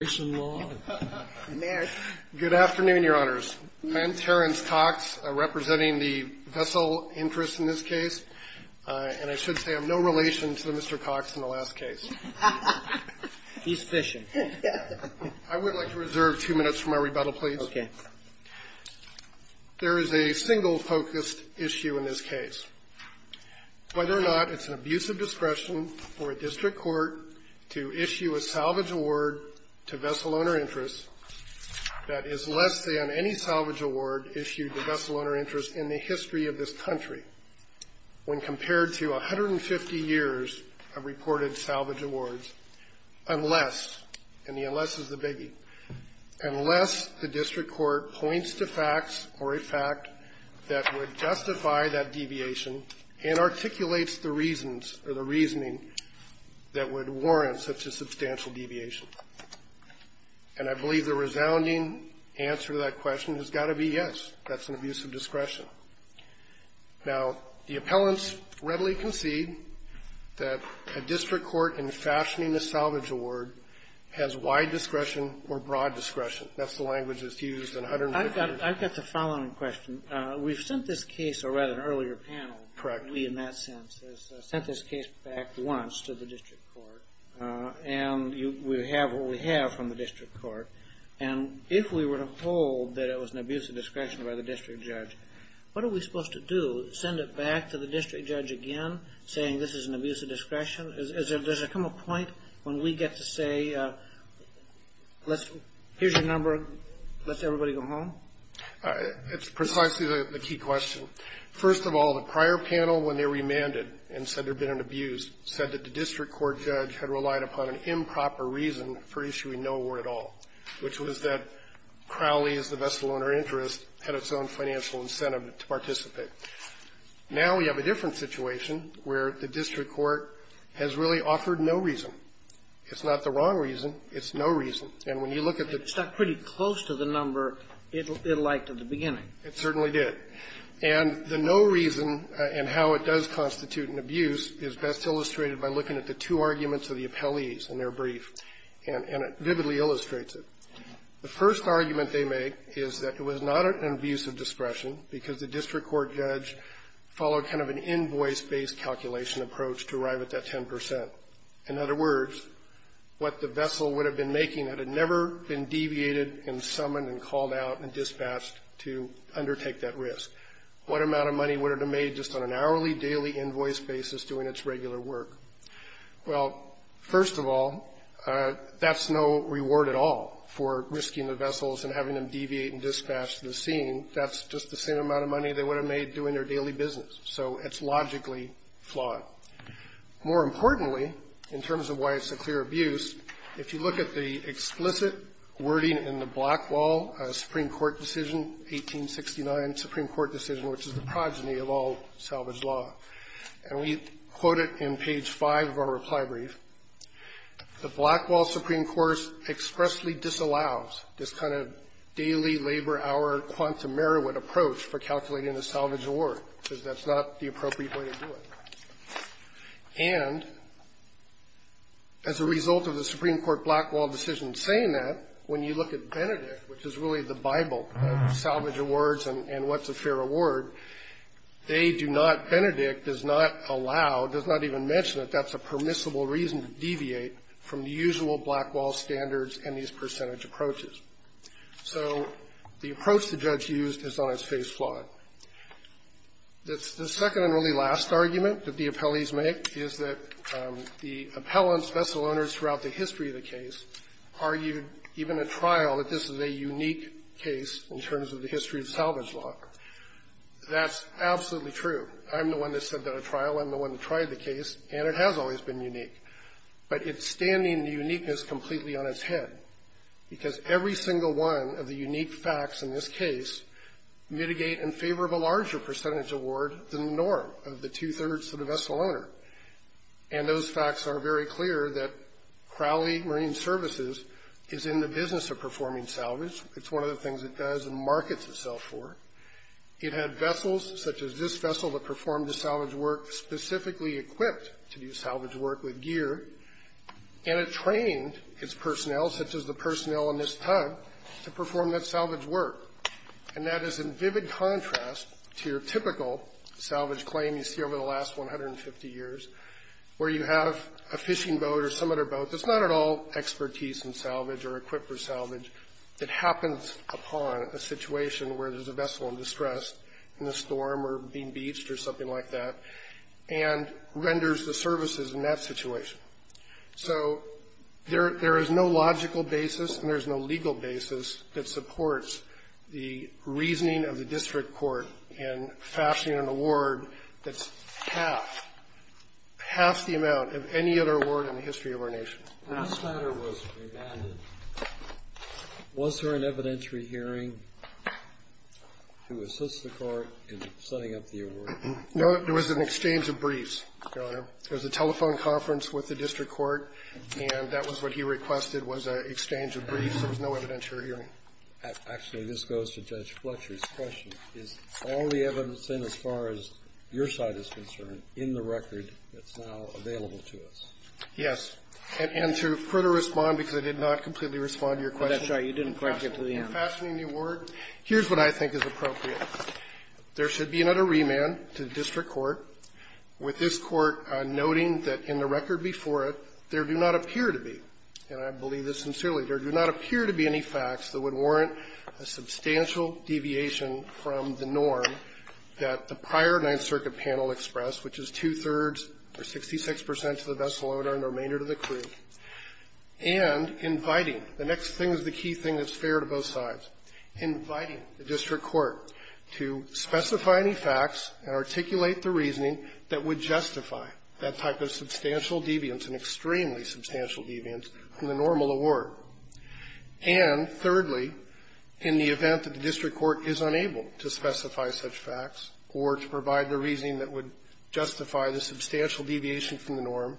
Good afternoon, Your Honors. I'm Terrence Cox, representing the Vessel Interest in this case, and I should say I have no relation to Mr. Cox in the last case. He's fishing. I would like to reserve two minutes for my rebuttal, please. Okay. There is a single-focused issue in this case. Whether or not it's an abuse of discretion for a district court to issue a salvage award to Vessel Owner Interest that is less than any salvage award issued to Vessel Owner Interest in the history of this country, when compared to 150 years of reported salvage awards, unless, and the unless is the biggie, unless the district court points to facts or a fact that would justify that deviation and articulates the reasons or the reasoning that would warrant such a substantial deviation. And I believe the resounding answer to that question has got to be yes, that's an abuse of discretion. Now, the appellants readily concede that a district court in fashioning a salvage award has wide discretion or broad discretion. That's the language that's used in 150 years. I've got the following question. We've sent this case or read an earlier panel. Correct. We, in that sense, has sent this case back once to the district court, and we have what we have from the district court. And if we were to hold that it was an abuse of discretion by the district judge, what are we supposed to do, send it back to the district judge again, saying this is an abuse of discretion? Does there come a point when we get to say, here's your number, let's everybody go home? It's precisely the key question. First of all, the prior panel, when they remanded and said there had been an abuse, said that the district court judge had relied upon an improper reason for issuing no award at all, which was that Crowley, as the vessel owner interest, had its own financial incentive to participate. Now we have a different situation where the district court has really offered no reason. It's not the wrong reason. It's no reason. And when you look at the ---- It stuck pretty close to the number it liked at the beginning. It certainly did. And the no reason and how it does constitute an abuse is best illustrated by looking at the two arguments of the appellees in their brief, and it vividly illustrates it. The first argument they make is that it was not an abuse of discretion because the district court judge followed kind of an invoice-based calculation approach to arrive at that 10 percent. In other words, what the vessel would have been making, it had never been deviated and summoned and called out and dispatched to undertake that risk. What amount of money would it have made just on an hourly, daily invoice basis doing its regular work? Well, first of all, that's no reward at all for risking the vessels and having them deviate and dispatch to the scene. That's just the same amount of money they would have made doing their daily business. So it's logically flawed. More importantly, in terms of why it's a clear abuse, if you look at the explicit wording in the Blackwall Supreme Court decision, 1869 Supreme Court decision, which is the progeny of all salvage law, and we quote it in page 5 of our reply brief, the Blackwall Supreme Court expressly disallows this kind of daily labor hour quantum merit approach for calculating a salvage award because that's not the appropriate way to do it. And as a result of the Supreme Court Blackwall decision saying that, when you look at Benedict, which is really the Bible of salvage awards and what's a fair award, they do not – Benedict does not allow, does not even mention that that's a permissible reason to deviate from the usual Blackwall standards and these percentage approaches. So the approach the judge used is on its face flawed. The second and really last argument that the appellees make is that the appellants, vessel owners throughout the history of the case, argued even at trial that this is a unique case in terms of the history of salvage law. That's absolutely true. I'm the one that said that at trial. I'm the one that tried the case, and it has always been unique. But it's standing the uniqueness completely on its head because every single one of the unique facts in this case mitigate in favor of a larger percentage award than the norm of the two-thirds of the vessel owner. And those facts are very clear that Crowley Marine Services is in the business of performing salvage. It's one of the things it does and markets itself for. It had vessels such as this vessel that performed the salvage work specifically equipped to do salvage work with gear, and it trained its personnel such as the personnel in this vessel to perform that salvage work. And that is in vivid contrast to your typical salvage claim you see over the last 150 years where you have a fishing boat or some other boat that's not at all expertise in salvage or equipped for salvage. It happens upon a situation where there's a vessel in distress in a storm or being beached or something like that and renders the services in that situation. So there is no logical basis and there is no legal basis that supports the reasoning of the district court in fashioning an award that's half, half the amount of any other award in the history of our nation. The last matter was re-added. Was there an evidentiary hearing to assist the court in setting up the award? No. There was an exchange of briefs going on. There was a telephone conference with the district court, and that was what he requested was an exchange of briefs. There was no evidentiary hearing. Actually, this goes to Judge Fletcher's question. Is all the evidence in as far as your side is concerned in the record that's now available to us? Yes. And to further respond, because I did not completely respond to your question. That's right. You didn't correct it to the end. In fashioning the award, here's what I think is appropriate. There should be another remand to the district court with this court noting that in the record before it, there do not appear to be, and I believe this sincerely, there do not appear to be any facts that would warrant a substantial deviation from the norm that the prior Ninth Circuit panel expressed, which is two-thirds or 66 percent to the vessel owner and the remainder to the crew, and inviting The next thing is the key thing that's fair to both sides. Inviting the district court to specify any facts and articulate the reasoning that would justify that type of substantial deviance, an extremely substantial deviance, from the normal award. And thirdly, in the event that the district court is unable to specify such facts or to provide the reasoning that would justify the substantial deviation from the norm,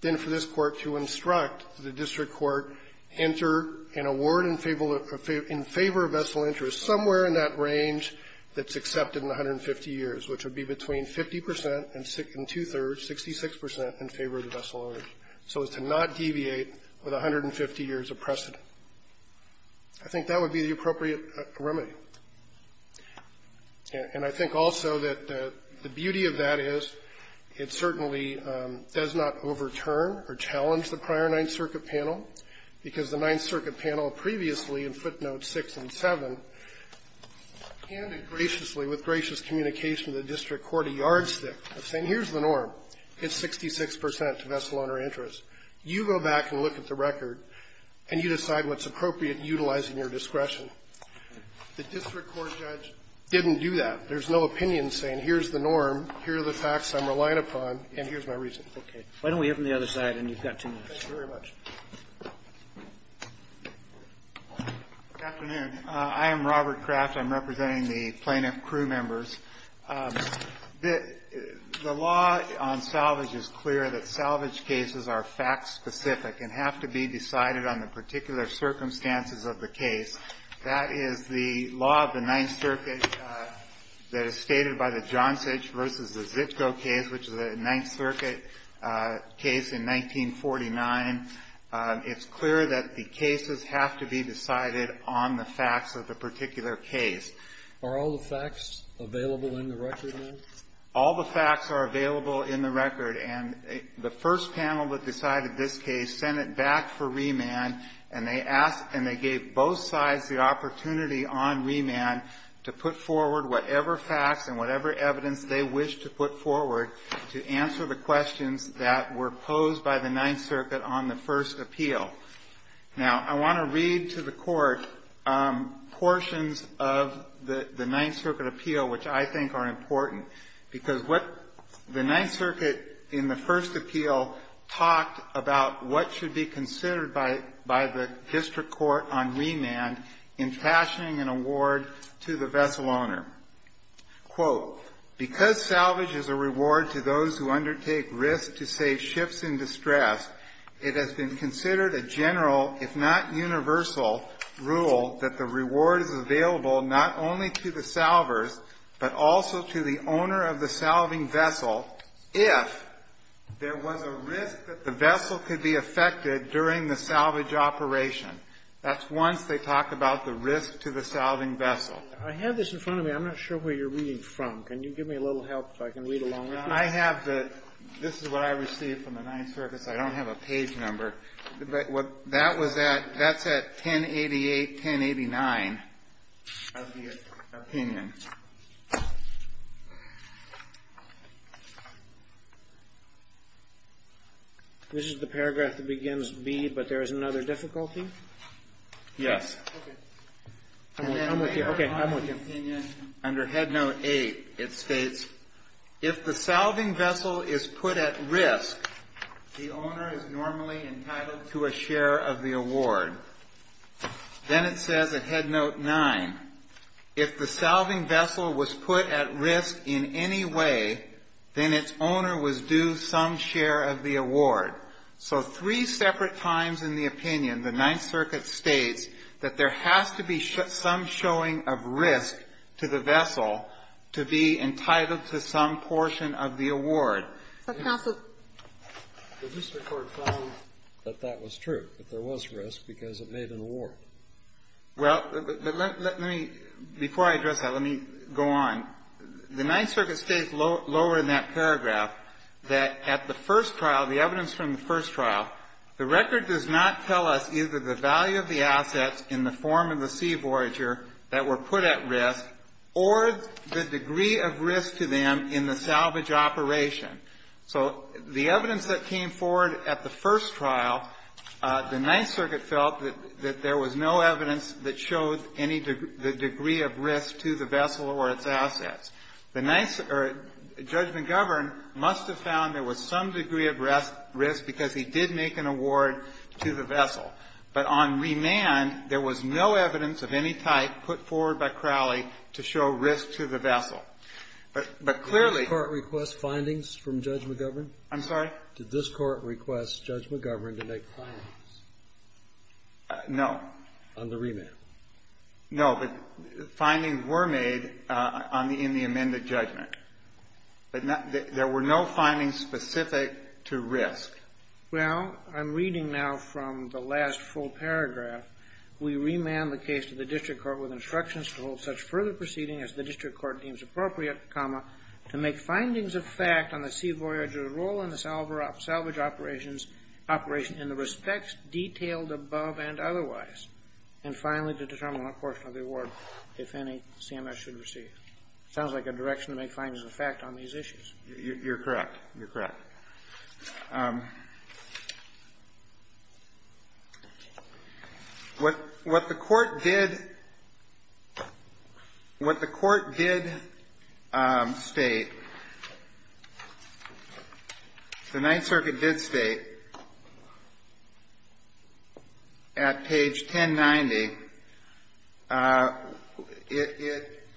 then for this court to instruct the district court, enter an award in favor of vessel interest somewhere in that range that's accepted in 150 years, which would be between 50 percent and two-thirds, 66 percent, in favor of the vessel owner, so as to not deviate with 150 years of precedent. I think that would be the appropriate remedy. And I think also that the beauty of that is it certainly does not take away from or overturn or challenge the prior Ninth Circuit panel, because the Ninth Circuit panel previously, in footnotes 6 and 7, handed graciously, with gracious communication to the district court a yardstick of saying, here's the norm, it's 66 percent to vessel owner interest. You go back and look at the record, and you decide what's right or wrong, and then we open the other side, and you've got two minutes. Robert Kraft, Jr. Good afternoon. I am Robert Kraft. I'm representing the plaintiff crew members. The law on salvage is clear, that salvage cases are fact-specific and have to be decided on the particular circumstances of the case. That is the law of the Ninth Circuit that is stated by the John Sage v. Zitko case, which is a Ninth Circuit case in 1949. It's clear that the cases have to be decided on the facts of the particular case. Are all the facts available in the record, then? All the facts are available in the record. And the first panel that decided this case sent it back for remand, and they asked and they gave both sides the opportunity on remand to put forward whatever facts and whatever evidence they wished to put forward to answer the questions that were posed by the Ninth Circuit on the first appeal. Now, I want to read to the Court portions of the Ninth Circuit appeal which I think are important, because what the Ninth Circuit in the first appeal talked about what should be considered by the district court on remand in fashioning an award to the vessel owner, quote, because salvage is a reward to those who undertake risk to save ships in distress, it has been considered a general, if not universal, rule that the reward is available not only to the salvers, but also to the owner of the salving vessel if there was a risk that the That's once they talk about the risk to the salving vessel. I have this in front of me. I'm not sure where you're reading from. Can you give me a little help if I can read along with you? I have the this is what I received from the Ninth Circuit. I don't have a page number. But what that was at, that's at 1088, 1089 of the opinion. This is the paragraph that begins B, but there is another difficulty. Yes. I'm with you. Okay. I'm with you. Under head note eight, it states, if the salving vessel is put at risk, the owner is normally entitled to a share of the award. Then it says at head note nine, if the salving vessel was put at risk in any way, then its owner was due some share of the award. So three separate times in the opinion, the Ninth Circuit states that there has to be some showing of risk to the vessel to be entitled to some portion of the award. But, counsel. The district court found that that was true, that there was risk because it made an award. Well, let me, before I address that, let me go on. The Ninth Circuit states lower in that paragraph that at the first trial, the evidence from the first trial, the record does not tell us either the value of the assets in the form of the sea voyager that were put at risk or the degree of risk to them in the salvage operation. So the evidence that came forward at the first trial, the Ninth Circuit felt that there was no evidence that showed any, the degree of risk to the vessel or its assets. Judge McGovern must have found there was some degree of risk because he did make an award to the vessel. But on remand, there was no evidence of any type put forward by Crowley to show risk to the vessel. But clearly. Did this Court request findings from Judge McGovern? I'm sorry? Did this Court request Judge McGovern to make findings? No. On the remand? No. But findings were made in the amended judgment. But there were no findings specific to risk. Well, I'm reading now from the last full paragraph. We remand the case to the district court with instructions to hold such further proceeding as the district court deems appropriate, comma, to make findings of fact on the sea voyager role in the salvage operations in the respects detailed above and otherwise, and finally to determine what portion of the award, if any, CMS should receive. Sounds like a direction to make findings of fact on these issues. You're correct. What the Court did state, the Ninth Circuit did state at page 1090,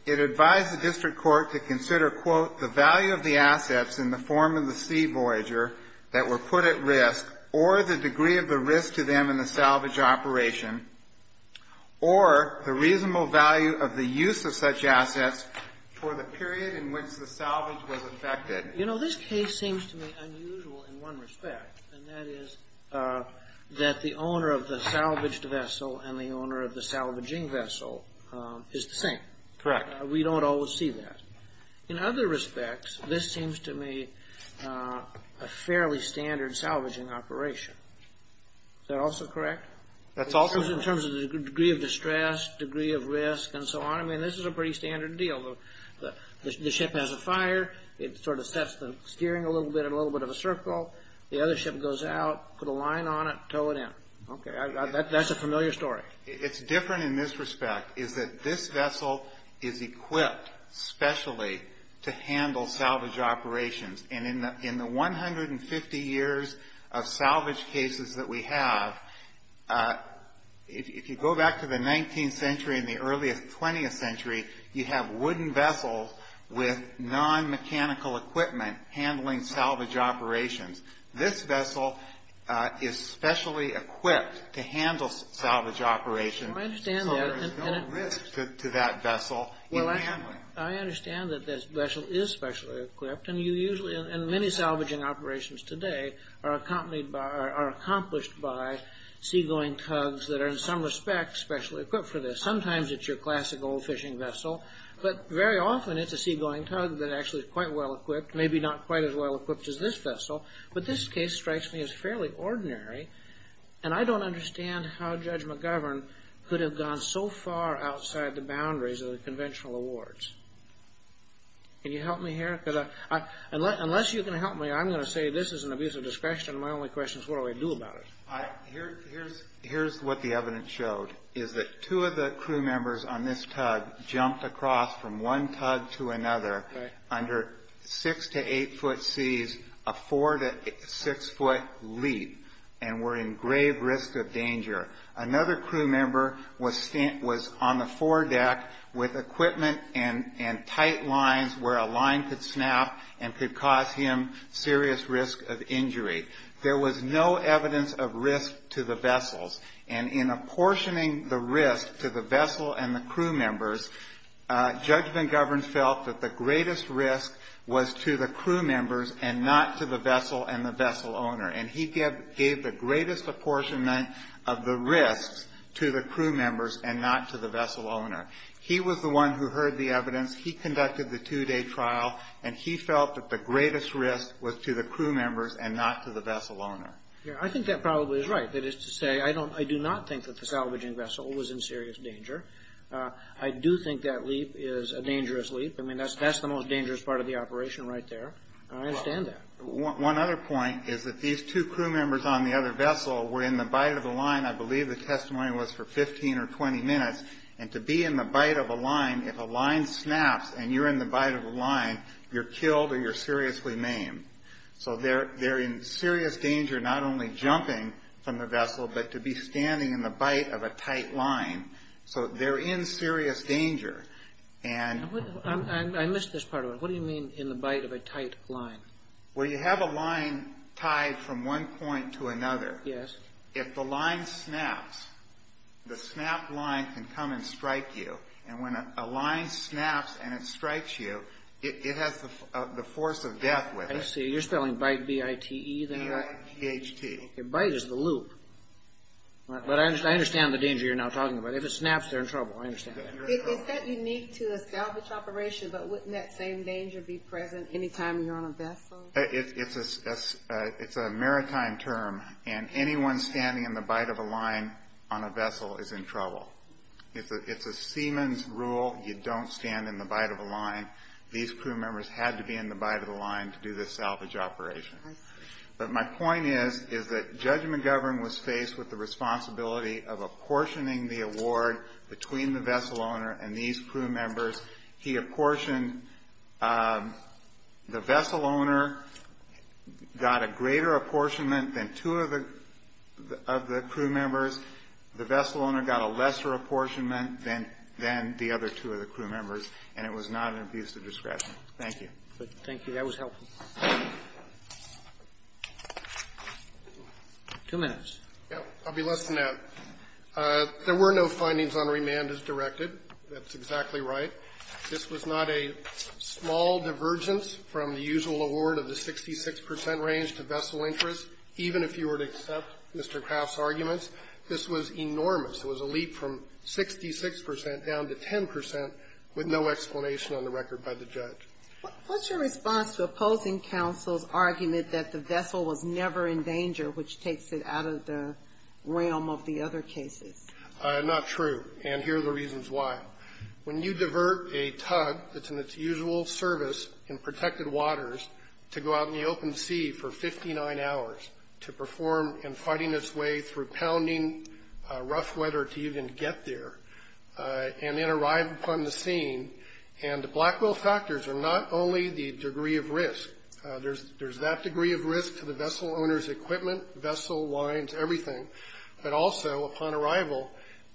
it advised the district court to consider, quote, the value of the assets in the form of the sea voyager that were put at risk, or the degree of the risk to them in the salvage operation, or the reasonable value of the use of such assets for the period in which the salvage was effected. You know, this case seems to me unusual in one respect, and that is that the owner of the salvaged vessel and the owner of the salvaging vessel is the same. Correct. We don't always see that. In other respects, this seems to me a fairly standard salvaging operation. Is that also correct? That's also correct. In terms of the degree of distress, degree of risk, and so on. I mean, this is a pretty standard deal. The ship has a fire. It sort of sets the steering a little bit in a little bit of a circle. The other ship goes out, put a line on it, tow it in. Okay. That's a familiar story. It's different in this respect, is that this vessel is equipped specially to handle salvage operations. In the 150 years of salvage cases that we have, if you go back to the 19th century and the early 20th century, you have wooden vessels with non-mechanical equipment handling salvage operations. This vessel is specially equipped to handle salvage operations. I understand that. So there is no risk to that vessel in handling. I understand that this vessel is specially equipped, and many salvaging operations today are accomplished by seagoing tugs that are, in some respects, specially equipped for this. Sometimes it's your classic old fishing vessel, but very often it's a seagoing tug that actually is quite well equipped, maybe not quite as well equipped as this vessel. But this case strikes me as fairly ordinary, and I don't understand how Judge McGovern could have gone so far outside the boundaries of the conventional awards. Can you help me here? Unless you can help me, I'm going to say this is an abuse of discretion. My only question is, what do I do about it? Here's what the evidence showed, is that two of the crew members on this tug jumped across from one tug to another under six to eight foot seas, a four to six foot leap, and were in grave risk of danger. Another crew member was on the foredeck with equipment and tight lines where a line could snap and could cause him serious risk of injury. There was no evidence of risk to the vessels, and in apportioning the risk to the vessel and the crew members, Judge McGovern felt that the greatest risk was to the crew members and not to the vessel and the vessel owner. And he gave the greatest apportionment of the risks to the crew members and not to the vessel owner. He was the one who heard the evidence. He conducted the two-day trial, and he felt that the greatest risk was to the crew members and not to the vessel owner. I think that probably is right. That is to say, I do not think that the salvaging vessel was in serious danger. I do think that leap is a dangerous leap. I mean, that's the most dangerous part of the operation right there. I understand that. One other point is that these two crew members on the other vessel were in the bite of a line. I believe the testimony was for 15 or 20 minutes. And to be in the bite of a line, if a line snaps and you're in the bite of a line, you're killed or you're seriously maimed. So they're in serious danger not only jumping from the vessel, but to be standing in the bite of a tight line. So they're in serious danger. I missed this part of it. What do you mean in the bite of a tight line? Well, you have a line tied from one point to another. Yes. If the line snaps, the snapped line can come and strike you. And when a line snaps and it strikes you, it has the force of death with it. You're spelling bite, B-I-T-E, then? B-I-T-H-T. Bite is the loop. But I understand the danger you're now talking about. If it snaps, they're in trouble. I understand that. Is that unique to a salvage operation? But wouldn't that same danger be present anytime you're on a vessel? It's a maritime term. And anyone standing in the bite of a line on a vessel is in trouble. It's a seamen's rule. You don't stand in the bite of a line. These crew members had to be in the bite of the line to do this salvage operation. I see. But my point is, is that Judge McGovern was faced with the responsibility of apportioning the award between the vessel owner and these crew members. He apportioned. The vessel owner got a greater apportionment than two of the crew members. The vessel owner got a lesser apportionment than the other two of the crew members. And it was not an abuse of discretion. Thank you. Thank you. That was helpful. Two minutes. I'll be less than that. There were no findings on remand as directed. That's exactly right. This was not a small divergence from the usual award of the 66 percent range to vessel interest, even if you were to accept Mr. Craft's arguments. This was enormous. It was a leap from 66 percent down to 10 percent with no explanation on the record by the judge. What's your response to opposing counsel's argument that the vessel was never in danger, which takes it out of the realm of the other cases? Not true. And here are the reasons why. When you divert a tug that's in its usual service in protected waters to go out in the wet or to even get there and then arrive upon the scene, and the Blackwell factors are not only the degree of risk. There's that degree of risk to the vessel owner's equipment, vessel lines, everything, but also upon arrival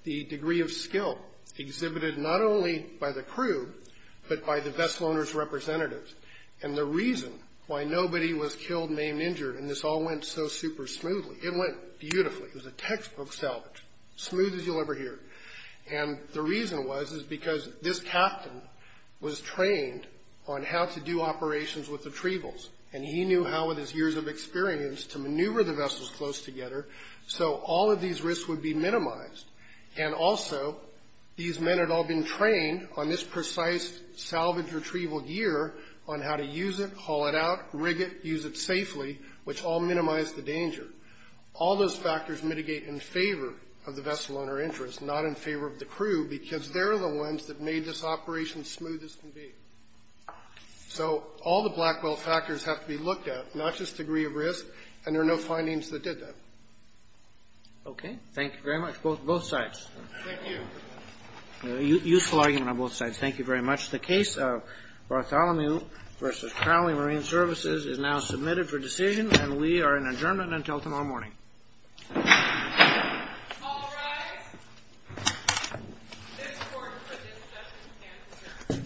the degree of skill exhibited not only by the crew but by the vessel owner's representatives. And the reason why nobody was killed, maimed, injured, and this all went so super smoothly. It went beautifully. It was a textbook salvage, smooth as you'll ever hear. And the reason was is because this captain was trained on how to do operations with retrievals, and he knew how, with his years of experience, to maneuver the vessels close together so all of these risks would be minimized. And also, these men had all been trained on this precise salvage-retrieval gear on how to use it, haul it out, rig it, use it safely, which all minimized the danger. All those factors mitigate in favor of the vessel owner interest, not in favor of the crew, because they're the ones that made this operation smooth as can be. So all the Blackwell factors have to be looked at, not just degree of risk, and there are no findings that did that. Okay. Thank you very much. Both sides. Thank you. Useful argument on both sides. Thank you very much. The case of Bartholomew v. Crowley Marine Services is now submitted for decision, and we are in adjournment until tomorrow morning. All rise. This court for this session stands adjourned. The case is submitted.